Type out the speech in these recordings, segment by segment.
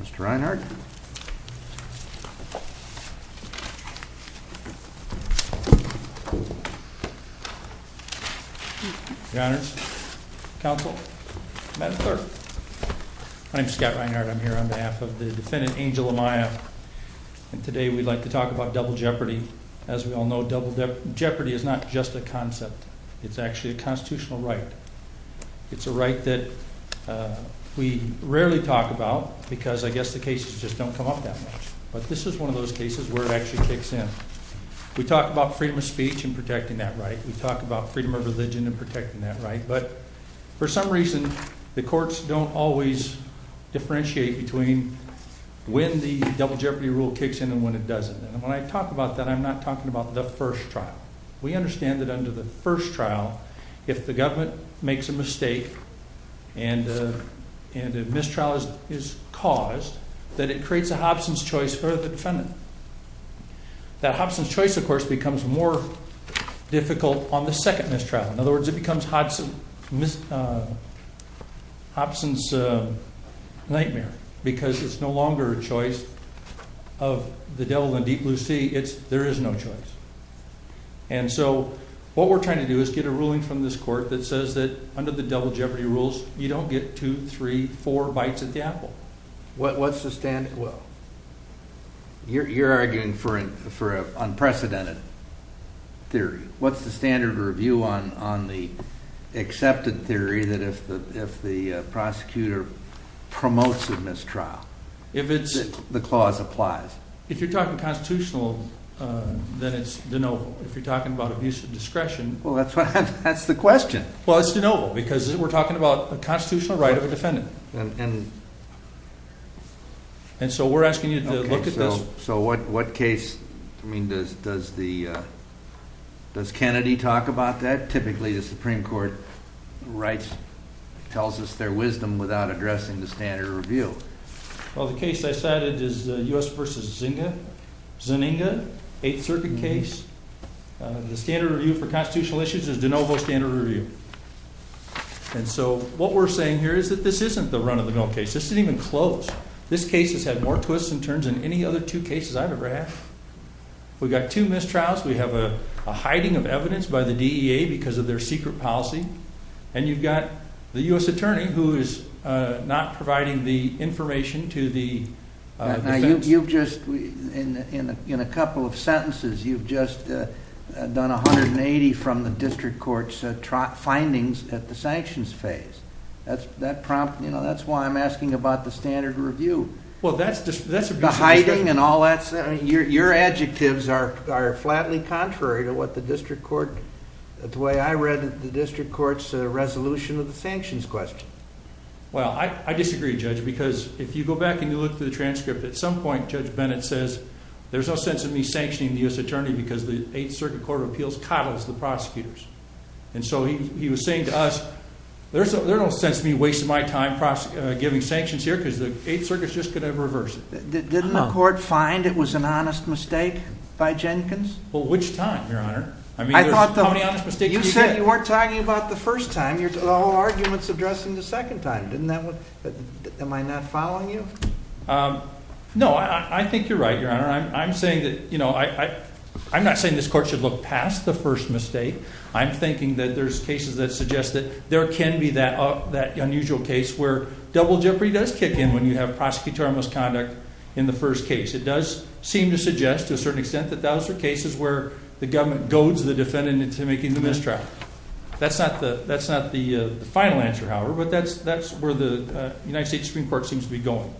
Mr. Reinhardt, Your Honors, Counsel, Madam Clerk, my name is Scott Reinhardt, I'm here on behalf of the defendant Angel Amaya, and today we'd like to talk about double jeopardy. As we all know, double jeopardy is not just a concept, it's actually a constitutional right. It's a right that we rarely talk about because I guess the cases just don't come up that much. But this is one of those cases where it actually kicks in. We talk about freedom of speech and protecting that right, we talk about freedom of religion and protecting that right, but for some reason the courts don't always differentiate between when the double jeopardy rule kicks in and when it doesn't. And when I talk about that, I'm not talking about the first trial. We understand that under the first trial, if the government makes a mistake and a mistrial is caused, that it creates a Hobson's choice for the defendant. That Hobson's choice, of course, becomes more difficult on the second mistrial. In other words, it becomes Hobson's nightmare because it's no longer a choice of the devil and deep blue sea, there is no choice. And so what we're trying to do is get a ruling from this court that says that under the double jeopardy rules, you don't get two, three, four bites at the apple. What's the standard? You're arguing for an unprecedented theory. What's the standard review on the accepted theory that if the prosecutor promotes a mistrial, the clause applies? If you're talking constitutional, then it's de novo. If you're talking about abuse of discretion... Well, that's the question. Well, it's de novo because we're talking about a constitutional right of a defendant. And so we're asking you to look at this... So what case... I mean, does Kennedy talk about that? Typically, the Supreme Court writes, tells us their wisdom without addressing the standard review. Well, the case I cited is U.S. v. Zynga, 8th Circuit case. The standard review for constitutional issues is de novo standard review. And so what we're saying here is that this isn't the run of the mill case. This isn't even close. This case has had more twists and turns than any other two cases I've ever had. We've got two mistrials. We have a hiding of evidence by the DEA because of their secret policy. And you've got the U.S. attorney who is not providing the information to the defense. You've just, in a couple of sentences, you've just done 180 from the district court's findings at the sanctions phase. That's why I'm asking about the standard review. Well, that's... The hiding and all that stuff, your adjectives are flatly contrary to what the district court... The way I read it, the district court's resolution of the sanctions question. Well, I disagree, Judge, because if you go back and you look through the transcript, at some point, Judge Bennett says, there's no sense in me sanctioning the U.S. attorney because the 8th Circuit Court of Appeals coddles the prosecutors. And so he was saying to us, there's no sense in me wasting my time giving sanctions here because the 8th Circuit's just going to reverse it. Didn't the court find it was an honest mistake by Jenkins? Well, which time, Your Honor? I mean, how many honest mistakes can you get? You said you weren't talking about the first time. Your whole argument's addressing the second time. Am I not following you? No, I think you're right, Your Honor. I'm saying that... I'm not saying this court should look past the first mistake. I'm thinking that there's cases that suggest that there can be that unusual case where double jeopardy does kick in when you have prosecutorial misconduct in the first case. It does seem to suggest to a certain extent that those are cases where the government goads the defendant into making the mistrial. That's not the final answer, however. But that's where the United States Supreme Court seems to be going.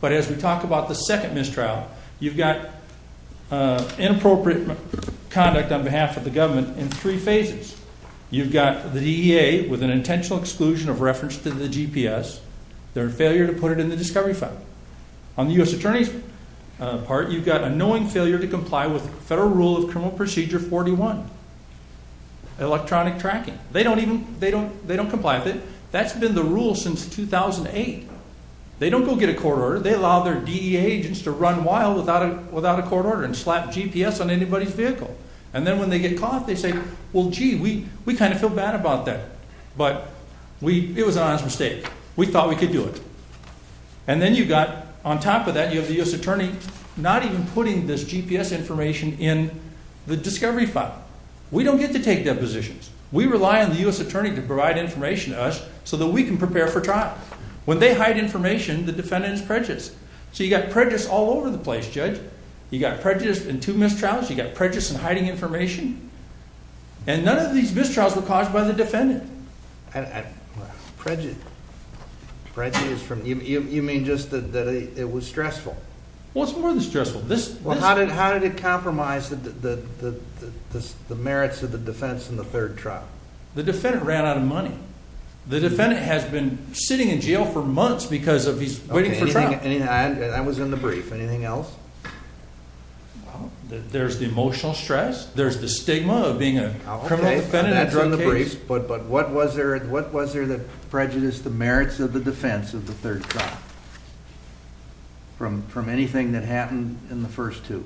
But as we talk about the second mistrial, you've got inappropriate conduct on behalf of the government in three phases. You've got the DEA with an intentional exclusion of reference to the GPS, their failure to put it in the discovery file. On the U.S. attorney's part, you've got a knowing failure to comply with Federal Rule of Criminal Procedure 41, electronic tracking. They don't even comply with it. That's been the rule since 2008. They don't go get a court order. They allow their DEA agents to run wild without a court order and slap GPS on anybody's vehicle. And then when they get caught, they say, well, gee, we kind of feel bad about that. But it was an honest mistake. We thought we could do it. And then you've got, on top of that, the U.S. attorney not even putting this GPS information in the discovery file. We don't get to take depositions. We rely on the U.S. attorney to provide information to us so that we can prepare for trial. When they hide information, the defendant is prejudiced. So you've got prejudice all over the place, Judge. You've got prejudice in two mistrials. You've got prejudice in hiding information. And none of these mistrials were caused by the defendant. And prejudice, you mean just that it was stressful? Well, it's more than stressful. How did it compromise the merits of the defense in the third trial? The defendant ran out of money. The defendant has been sitting in jail for months because of he's waiting for trial. And that was in the brief. Anything else? There's the emotional stress. There's the stigma of being a criminal defendant. But what was there that prejudiced the merits of the defense of the third trial from anything that happened in the first two?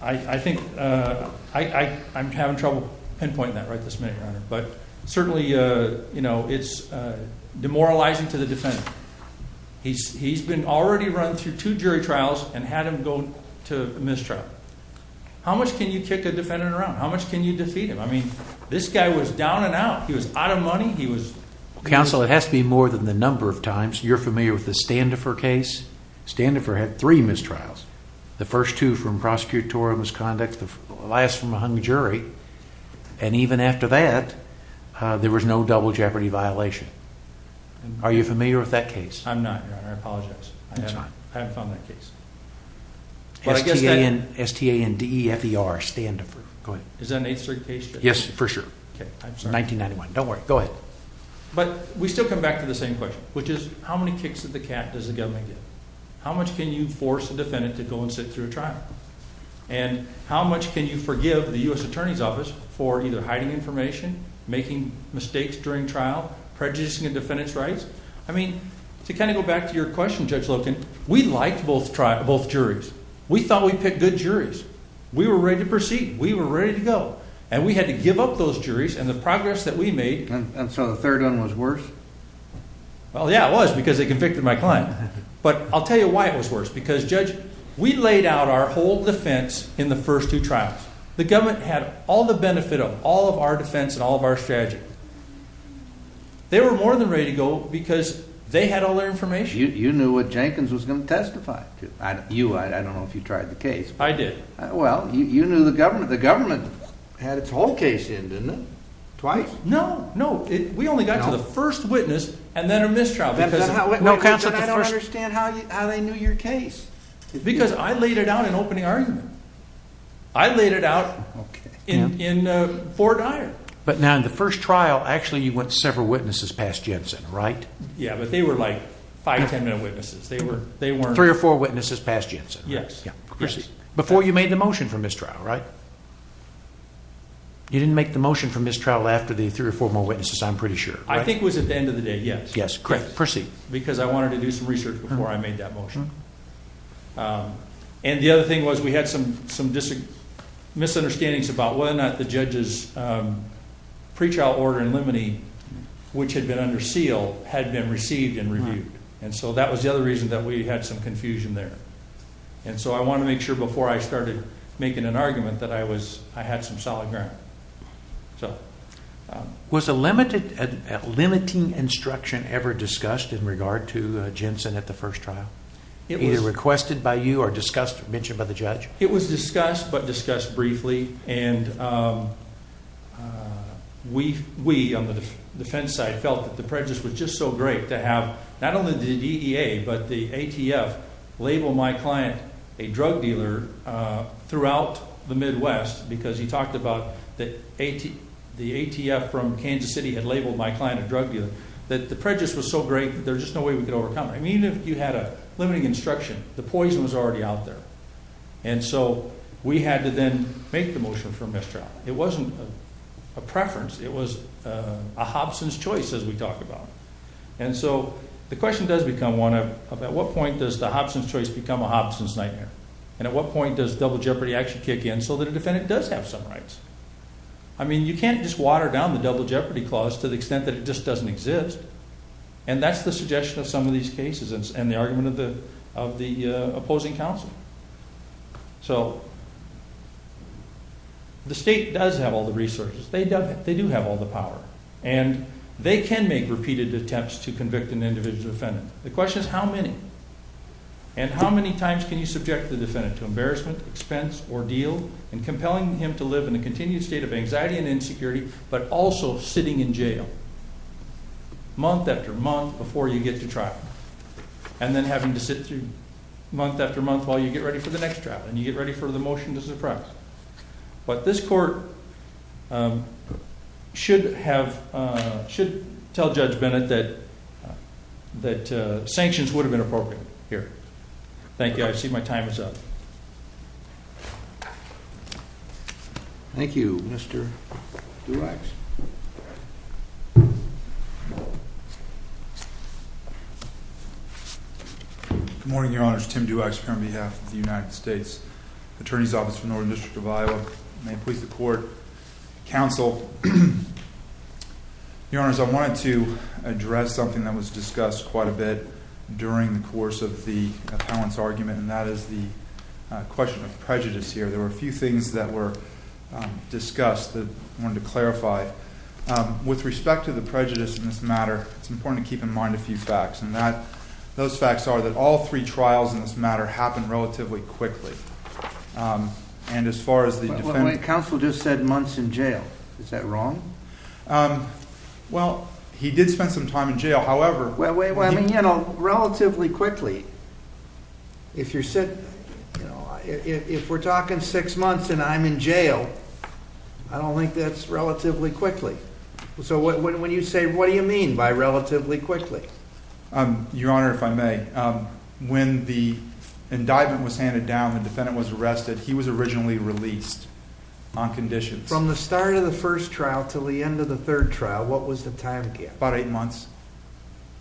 I think I'm having trouble pinpointing that right this minute, Your Honor. But certainly, you know, it's demoralizing to the defendant. He's been already run through two jury trials and had him go to a mistrial. How much can you kick a defendant around? How much can you defeat him? I mean, this guy was down and out. He was out of money. Counsel, it has to be more than the number of times. You're familiar with the Standifer case. Standifer had three mistrials. The first two from prosecutorial misconduct. The last from a hung jury. And even after that, there was no double jeopardy violation. Are you familiar with that case? I'm not, Your Honor. I apologize. I haven't found that case. But I guess that... S-T-A-N-D-E-F-E-R, Standifer. Go ahead. Is that an 8th Circuit case? Yes, for sure. Okay, I'm sorry. 1991. Don't worry. Go ahead. But we still come back to the same question, which is, how many kicks of the cat does the government get? How much can you force a defendant to go and sit through a trial? And how much can you forgive the U.S. Attorney's Office for either hiding information, making mistakes during trial, prejudicing a defendant's rights? I mean, to kind of go back to your question, Judge Loken, we liked both juries. We thought we picked good juries. We were ready to proceed. We were ready to go. And we had to give up those juries. And the progress that we made... And so the third one was worse? Well, yeah, it was, because they convicted my client. But I'll tell you why it was worse, because, Judge, we laid out our whole defense in the first two trials. The government had all the benefit of all of our defense and all of our strategy. They were more than ready to go because they had all their information. You knew what Jenkins was going to testify to. You, I don't know if you tried the case. I did. Well, you knew the government. The government had its whole case in, didn't it? Twice? No, no. We only got to the first witness and then a mistrial. I don't understand how they knew your case. Because I laid it out in opening argument. I laid it out in Fort Iron. But now in the first trial, actually, you went several witnesses past Jensen, right? Yeah, but they were like five, 10-minute witnesses. Three or four witnesses past Jensen? Yes. Before you made the motion for mistrial, right? You didn't make the motion for mistrial after the three or four more witnesses, I'm pretty sure. I think it was at the end of the day, yes. Yes, correct. Proceed. Because I wanted to do some research before I made that motion. And the other thing was we had some misunderstandings about whether or not the judge's pre-trial order in limine, which had been under seal, had been received and reviewed. And so that was the other reason that we had some confusion there. And so I wanted to make sure before I started making an argument that I had some solid ground. Was a limiting instruction ever discussed in regard to Jensen at the first trial? Either requested by you or discussed or mentioned by the judge? It was discussed, but discussed briefly. And we on the defense side felt that the prejudice was just so great to have not only the DEA, but the ATF label my client a drug dealer throughout the Midwest. Because he talked about that the ATF from Kansas City had labeled my client a drug dealer. That the prejudice was so great that there's just no way we could overcome it. I mean, if you had a limiting instruction, the poison was already out there. And so we had to then make the motion for mistrial. It wasn't a preference. It was a Hobson's choice as we talked about. And so the question does become one of, at what point does the Hobson's choice become a Hobson's nightmare? And at what point does double jeopardy actually kick in so that a defendant does have some rights? I mean, you can't just water down the double jeopardy clause to the extent that it just doesn't exist. And that's the suggestion of some of these cases and the argument of the opposing counsel. So the state does have all the resources. They do have all the power. And they can make repeated attempts to convict an individual defendant. The question is, how many? And how many times can you subject the defendant to embarrassment, expense, ordeal, and compelling him to live in a continued state of anxiety and insecurity but also sitting in jail month after month before you get to trial? And then having to sit through month after month while you get ready for the next trial and you get ready for the motion to suppress. But this court should tell Judge Bennett that sanctions would have been appropriate here. Thank you. I see my time is up. Good morning, Your Honors. Tim Duax here on behalf of the United States Attorney's Office for the Northern District of Iowa. May it please the court, counsel. Your Honors, I wanted to address something that was discussed quite a bit during the course of the appellant's argument. And that is the question of prejudice here. There were a few things that were discussed that I wanted to clarify. With respect to the prejudice in this matter, it's important to keep in mind a few facts. Those facts are that all three trials in this matter happened relatively quickly. Counsel just said months in jail. Is that wrong? Well, he did spend some time in jail. However, relatively quickly, if we're talking six months and I'm in jail, I don't think that's relatively quickly. So when you say, what do you mean by relatively quickly? Your Honor, if I may, when the indictment was handed down, the defendant was arrested, he was originally released on conditions. From the start of the first trial till the end of the third trial, what was the time gap? About eight months.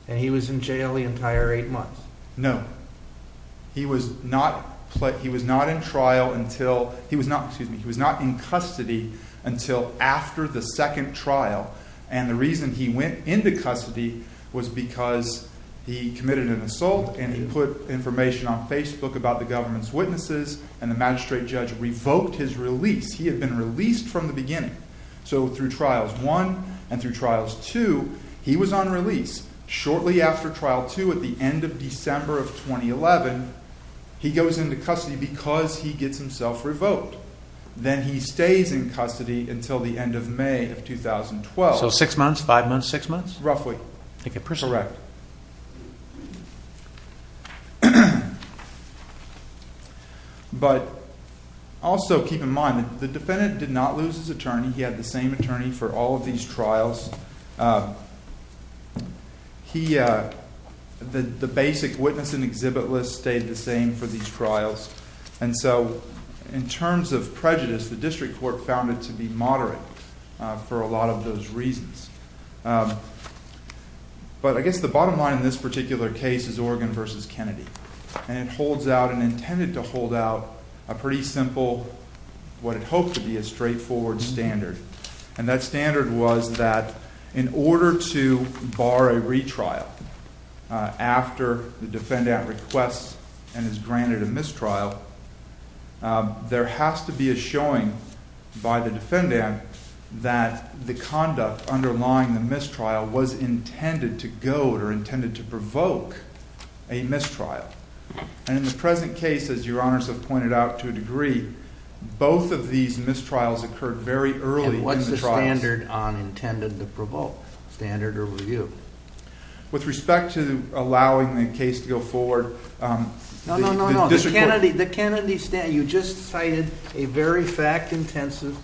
And he was in jail the entire eight months? No. He was not in custody until after the second trial. And the reason he went into custody was because he committed an assault and he put information on Facebook about the government's witnesses. And the magistrate judge revoked his release. He had been released from the beginning. So through trials one and through trials two, he was on release. Shortly after trial two, at the end of December of 2011, he goes into custody because he gets himself revoked. Then he stays in custody until the end of May of 2012. So six months, five months, six months? Roughly, correct. But also keep in mind that the defendant did not lose his attorney. He had the same attorney for all of these trials. The basic witness and exhibit list stayed the same for these trials. And so in terms of prejudice, the district court found it to be moderate for a lot of those reasons. But I guess the bottom line in this particular case is Oregon versus Kennedy. And it holds out and intended to hold out a pretty simple, what it hoped to be, a straightforward standard. And that standard was that in order to bar a retrial after the defendant requests and is granted a mistrial, there has to be a showing by the defendant that the conduct underlying the mistrial was intended to goad or intended to provoke a mistrial. And in the present case, as your honors have pointed out to a degree, both of these mistrials occurred very early in the trials. And what's the standard on intended to provoke? Standard or review? With respect to allowing the case to go forward, the district court. No, no, no, no. The Kennedy standard, you just cited a very fact-intensive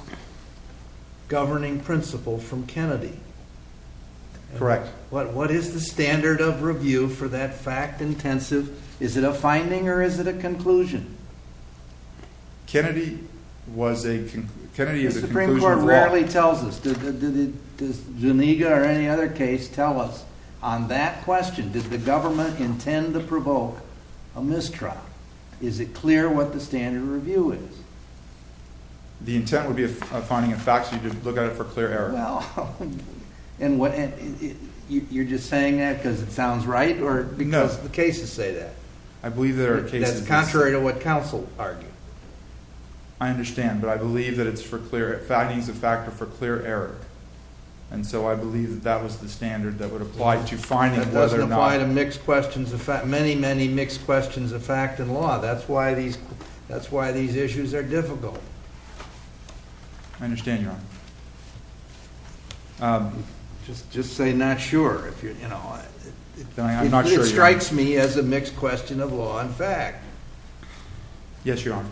governing principle from Kennedy. Correct. What is the standard of review for that fact-intensive? Is it a finding or is it a conclusion? Kennedy was a conclusion. The Supreme Court rarely tells us. Does Zuniga or any other case tell us on that question, did the government intend to provoke a mistrial? Is it clear what the standard review is? The intent would be a finding of facts. You'd look at it for clear error. Well, you're just saying that because it sounds right or because the cases say that? I believe there are cases. That's contrary to what counsel argued. I understand. But I believe that it's for clear findings of fact or for clear error. And so I believe that that was the standard that would apply to finding whether or not. That doesn't apply to mixed questions of fact, many, many mixed questions of fact and law. That's why these issues are difficult. I understand, your honor. I'm just saying not sure. I'm not sure. It strikes me as a mixed question of law and fact. Yes, your honor.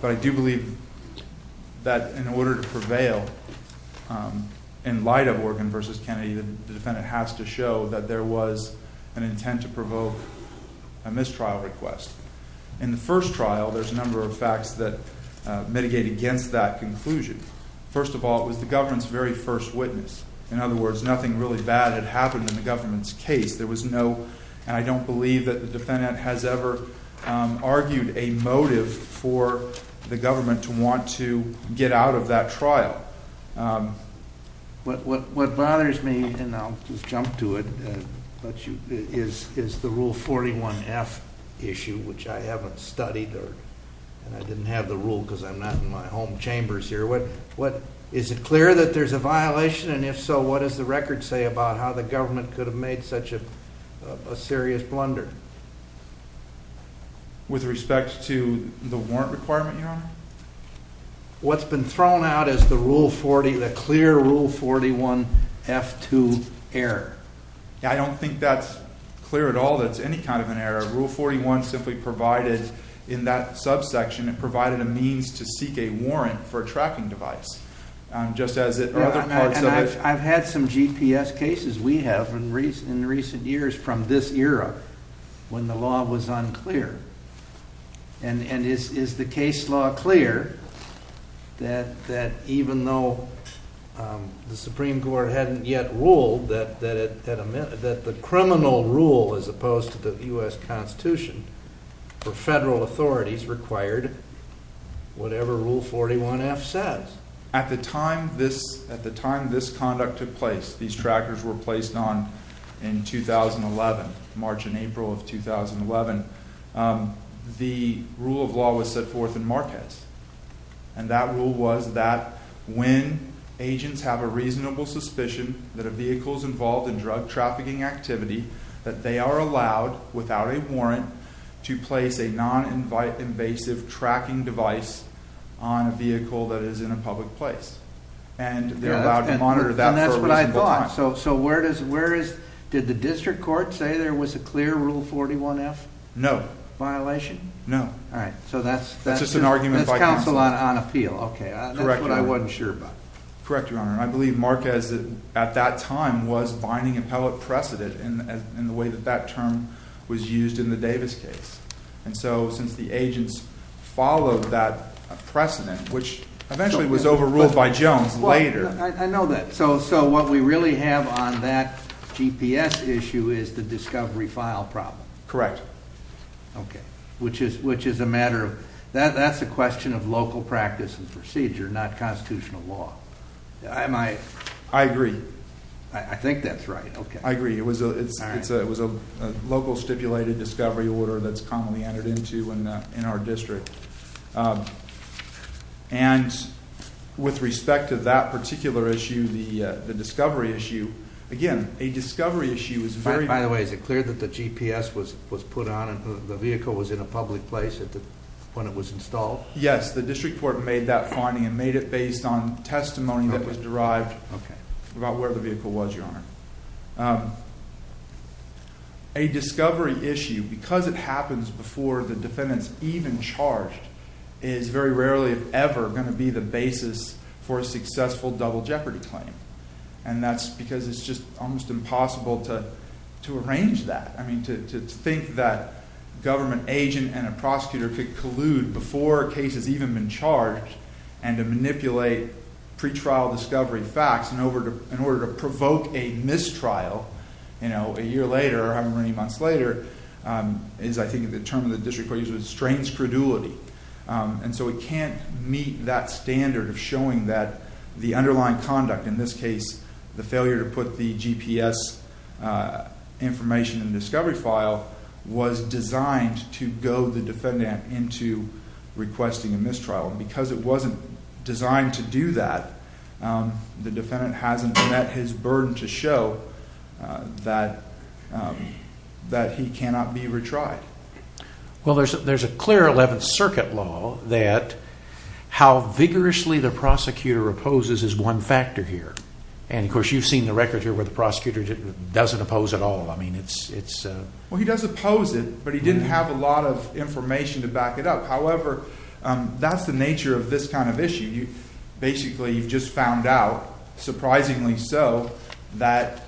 But I do believe that in order to prevail in light of Organ v. Kennedy, the defendant has to show that there was an intent to provoke a mistrial request. In the first trial, there's a number of facts that mitigate against that conclusion. First of all, it was the government's very first witness. In other words, nothing really bad had happened in the government's case. And I don't believe that the defendant has ever argued a motive for the government to want to get out of that trial. What bothers me, and I'll just jump to it, is the Rule 41F issue, which I haven't studied. And I didn't have the rule because I'm not in my home chambers here. Is it clear that there's a violation? And if so, what does the record say about how the government could have made such a serious blunder? With respect to the warrant requirement, your honor? What's been thrown out is the clear Rule 41F2 error. I don't think that's clear at all. That's any kind of an error. it provided a means to seek a warrant for a tracking device. I've had some GPS cases we have in recent years from this era when the law was unclear. And is the case law clear that even though the Supreme Court hadn't yet ruled that the criminal rule as opposed to the U.S. Constitution for federal authorities required whatever Rule 41F says? At the time this conduct took place, these trackers were placed on in 2011, March and April of 2011, the rule of law was set forth in Marquez. And that rule was that when agents have a reasonable suspicion that a vehicle's involved in drug trafficking activity, that they are allowed, without a warrant, to place a non-invasive tracking device on a vehicle that is in a public place. And they're allowed to monitor that. And that's what I thought. So where is, did the district court say there was a clear Rule 41F? No. Violation? No. All right. So that's just an argument. That's counsel on appeal. Okay, that's what I wasn't sure about. Correct, your honor. I believe Marquez at that time was binding appellate precedent in the way that that term was used in the Davis case. And so since the agents followed that precedent, which eventually was overruled by Jones later. I know that. So what we really have on that GPS issue is the discovery file problem. Correct. Okay, which is a matter of, that's a question of local practice and procedure, not constitutional law. I agree. I think that's right, okay. I agree. It was a local stipulated discovery order that's commonly entered into in our district. And with respect to that particular issue, the discovery issue. Again, a discovery issue is very- By the way, is it clear that the GPS was put on and the vehicle was in a public place when it was installed? Yes, the district court made that finding and made it based on testimony that was derived about where the vehicle was, your honor. Okay. A discovery issue, because it happens before the defendant's even charged, is very rarely, if ever, going to be the basis for a successful double jeopardy claim. And that's because it's just almost impossible to arrange that. I mean, to think that a government agent and a prosecutor could collude before a case has even been charged and to manipulate pretrial discovery facts in order to provoke a mistrial, a year later or however many months later, is I think the term of the district court used was strange credulity. And so we can't meet that standard of showing that the underlying conduct, in this case, the failure to put the GPS information in the discovery file was designed to goad the defendant into requesting a mistrial. Because it wasn't designed to do that, the defendant hasn't met his burden to show that he cannot be retried. Well, there's a clear 11th Circuit law that how vigorously the prosecutor opposes is one factor here. And of course, you've seen the records here where the prosecutor doesn't oppose at all. I mean, it's... Well, he does oppose it, but he didn't have a lot of information to back it up. However, that's the nature of this kind of issue. Basically, you've just found out, surprisingly so, that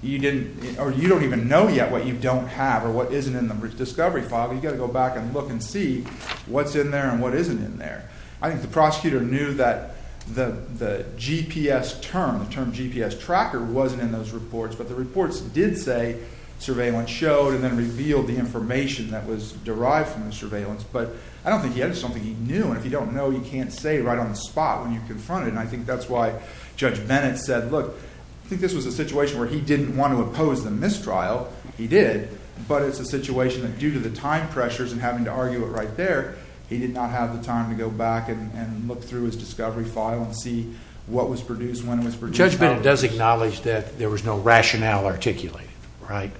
you don't even know yet what you don't have or what isn't in the discovery file. You've got to go back and look and see what's in there and what isn't in there. I think the prosecutor knew that the GPS term, the term GPS tracker wasn't in those reports. But the reports did say surveillance showed and then revealed the information that was derived from the surveillance. But I don't think he had it. I just don't think he knew. And if you don't know, you can't say right on the spot when you're confronted. And I think that's why Judge Bennett said, look, I think this was a situation where he didn't want to oppose the mistrial. He did. But it's a situation that due to the time pressures and having to argue it right there, he did not have the time to go back and look through his discovery file and see what was produced, when it was produced. Judge Bennett does acknowledge that there was no rationale articulated, right?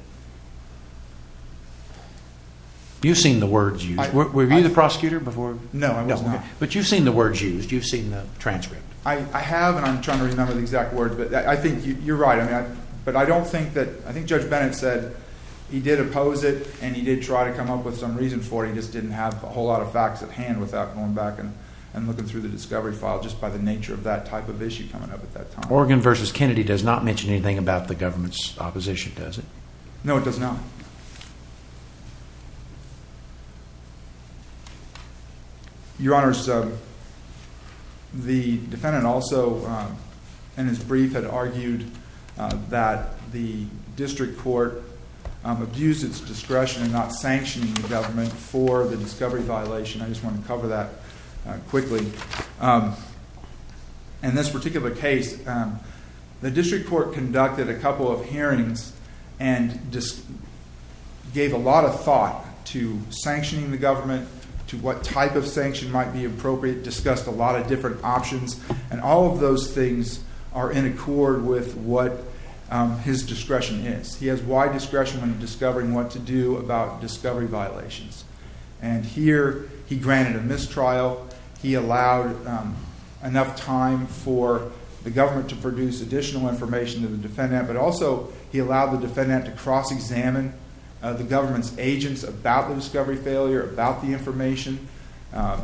You've seen the words used. Were you the prosecutor before? No, I was not. But you've seen the words used. You've seen the transcript. I have. And I'm trying to remember the exact words. But I think you're right. But I don't think that, I think Judge Bennett said, he did oppose it. And he did try to come up with some reason for it. He just didn't have a whole lot of facts at hand without going back and looking through the discovery file just by the nature of that type of issue coming up at that time. Oregon versus Kennedy does not mention anything about the government's opposition, does it? No, it does not. Your Honor, the defendant also, in his brief, had argued that the district court abused its discretion in not sanctioning the government for the discovery violation. I just want to cover that quickly. In this particular case, the district court conducted a couple of hearings and just gave a lot of thought to sanctioning the government, to what type of sanction might be appropriate, discussed a lot of different options. And all of those things are in accord with what his discretion is. He has wide discretion when discovering what to do about discovery violations. And here, he granted a mistrial. He allowed enough time for the government to produce additional information to the defendant. But also, he allowed the defendant to cross-examine the government's agents about the discovery failure, about the information. At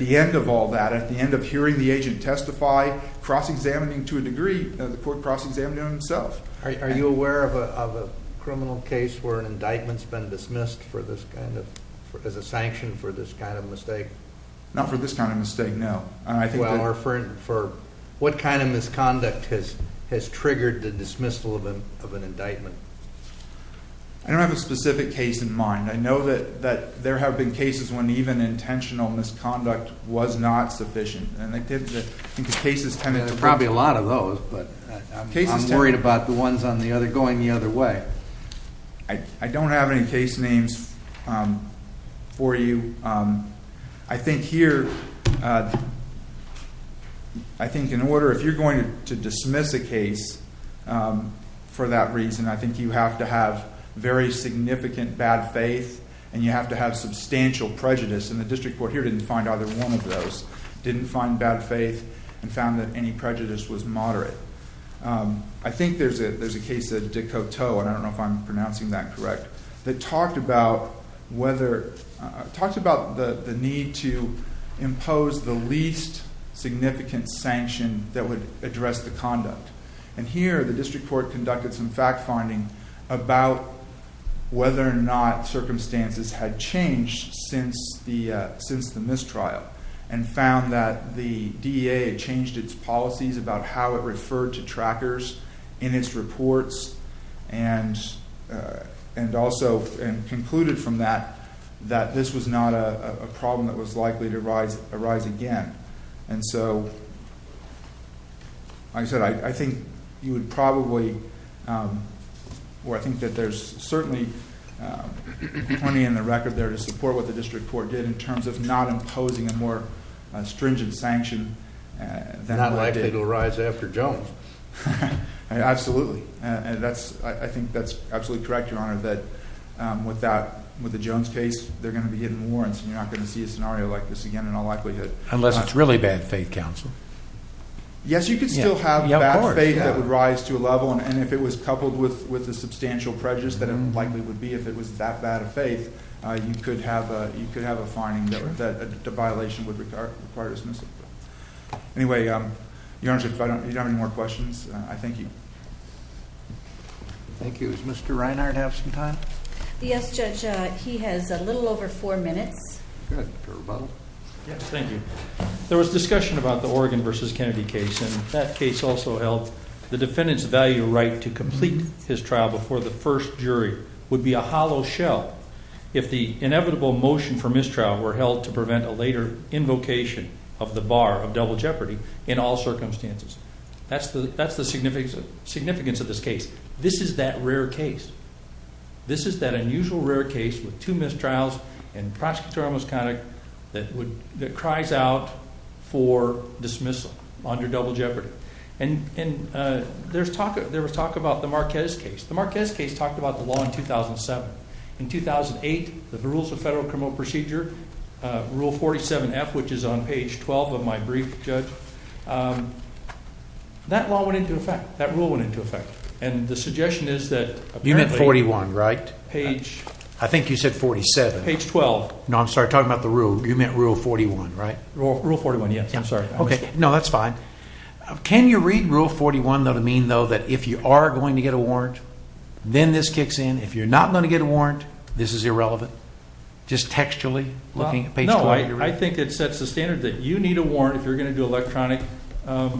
the end of all that, at the end of hearing the agent testify, cross-examining to a degree, the court cross-examined himself. Are you aware of a criminal case where an indictment's been dismissed as a sanction for this kind of mistake? Not for this kind of mistake, no. Well, or for what kind of misconduct has triggered the dismissal of an indictment? I don't have a specific case in mind. I know that there have been cases when even intentional misconduct was not sufficient. And I think the cases tend to- Probably a lot of those, but I'm worried about the ones on the other, going the other way. I don't have any case names for you. I think here, I think in order, if you're going to dismiss a case for that reason, I think you have to have very significant bad faith and you have to have substantial prejudice. And the district court here didn't find either one of those. Didn't find bad faith and found that any prejudice was moderate. I think there's a case of de Coteau, and I don't know if I'm pronouncing that correct, that talked about whether- Talked about the need to impose the least significant sanction that would address the conduct. And here, the district court conducted some fact finding about whether or not circumstances had changed since the mistrial and found that the DEA had changed its policies about how it referred to trackers in its reports and also concluded from that, that this was not a problem that was likely to arise again. And so, like I said, I think you would probably, or I think that there's certainly plenty in the record there to support what the district court did in terms of not imposing a more stringent sanction. It's not likely it'll rise after Jones. Absolutely. I think that's absolutely correct, Your Honor, that with the Jones case, they're going to be hidden warrants and you're not going to see a scenario like this again in all likelihood. Unless it's really bad faith, counsel. Yes, you could still have bad faith that would rise to a level and if it was coupled with the substantial prejudice that it likely would be if it was that bad of faith, you could have a finding that a violation would require dismissal. Anyway, Your Honor, if you don't have any more questions, I thank you. Thank you. Does Mr. Reinhardt have some time? Yes, Judge. He has a little over four minutes. Thank you. There was discussion about the Oregon versus Kennedy case and that case also held the defendant's value right to complete his trial before the first jury would be a hollow shell if the inevitable motion for mistrial were held to prevent a later invocation of the bar of double jeopardy in all circumstances. That's the significance of this case. This is that rare case. This is that unusual rare case with two mistrials and prosecutorial misconduct that cries out for dismissal under double jeopardy. And there was talk about the Marquez case. The Marquez case talked about the law in 2007. In 2008, the rules of federal criminal procedure, Rule 47F, which is on page 12 of my brief, Judge, that law went into effect. That rule went into effect. And the suggestion is that you meant 41, right? Page. I think you said 47. Page 12. No, I'm sorry. Talking about the rule. You meant Rule 41, right? Rule 41, yes. I'm sorry. OK, no, that's fine. Can you read Rule 41, though, to mean, though, that if you are going to get a warrant, then this kicks in. If you're not going to get a warrant, this is irrelevant. Just textually looking at page 12. I think it sets the standard that you need a warrant if you're going to do electronic. Can't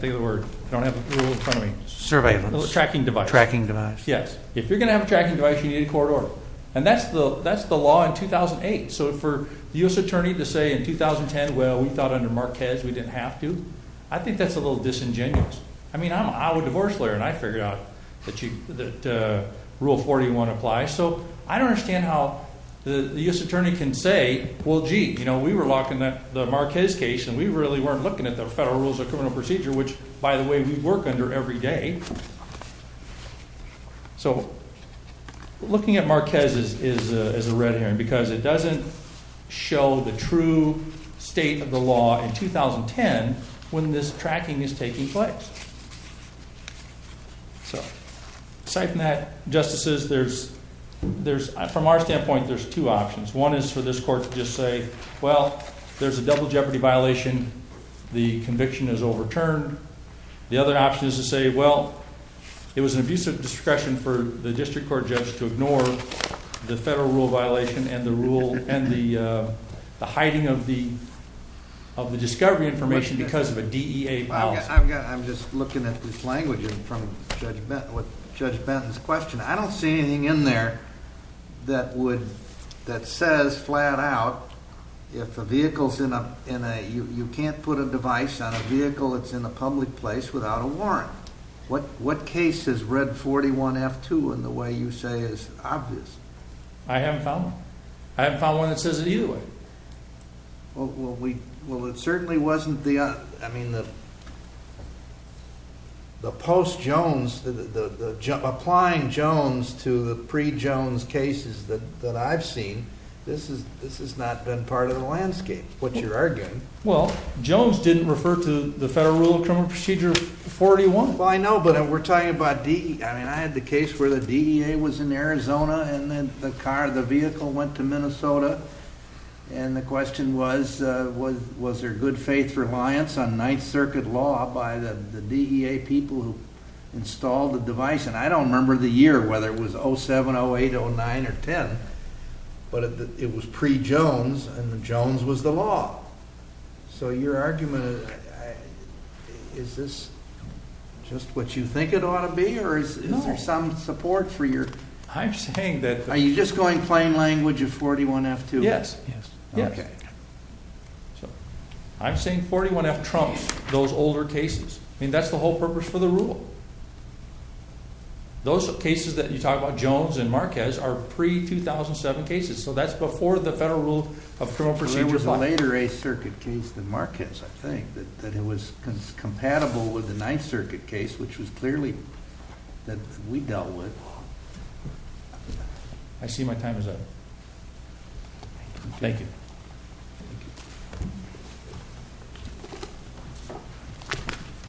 think of the word. I don't have a rule in front of me. Surveillance. Tracking device. Tracking device. Yes. If you're going to have a tracking device, you need a court order. And that's the law in 2008. So for the U.S. attorney to say in 2010, well, we thought under Marquez we didn't have to, I think that's a little disingenuous. I mean, I'm a divorce lawyer and I figured out that Rule 41 applies. So I don't understand how the U.S. attorney can say, well, gee, you know, we were locking the Marquez case and we really weren't looking at the federal rules of criminal procedure, which, by the way, we work under every day. So looking at Marquez is a red herring because it doesn't show the true state of the law in 2010 when this tracking is taking place. So aside from that, Justices, from our standpoint, there's two options. One is for this court to just say, well, there's a double jeopardy violation. The conviction is overturned. The other option is to say, well, it was an abuse of discretion for the district court judge to ignore the federal rule violation and the rule and the hiding of the discovery information because of a DEA policy. I'm just looking at this language from Judge Benton's question. I don't see anything in there that says flat out if a vehicle's in a, you can't put a device on a vehicle that's in a public place without a warrant. What case has read 41F2 in the way you say is obvious? I haven't found one. I haven't found one that says it either way. Well, it certainly wasn't the, I mean, the post Jones, applying Jones to the pre-Jones cases that I've seen, this has not been part of the landscape, which you're arguing. Well, Jones didn't refer to the Federal Rule of Criminal Procedure 41. Well, I know, but we're talking about D, I mean, I had the case where the DEA was in Arizona and then the car, the vehicle went to Minnesota. And the question was, was there good faith reliance on Ninth Circuit law by the DEA people who installed the device? And I don't remember the year, whether it was 07, 08, 09, or 10, but it was pre-Jones and the Jones was the law. So your argument, is this just what you think it ought to be, or is there some support for your... I'm saying that... Are you just going plain language of 41F2? Yes, yes. Okay. So I'm saying 41F trumps those older cases. I mean, that's the whole purpose for the rule. Those cases that you talk about, Jones and Marquez, are pre-2007 cases. So that's before the Federal Rule of Criminal Procedure 5. Later Eighth Circuit case than Marquez, I think, that it was compatible with the Ninth Circuit case, which was clearly that we dealt with. I see my time is up. Thank you.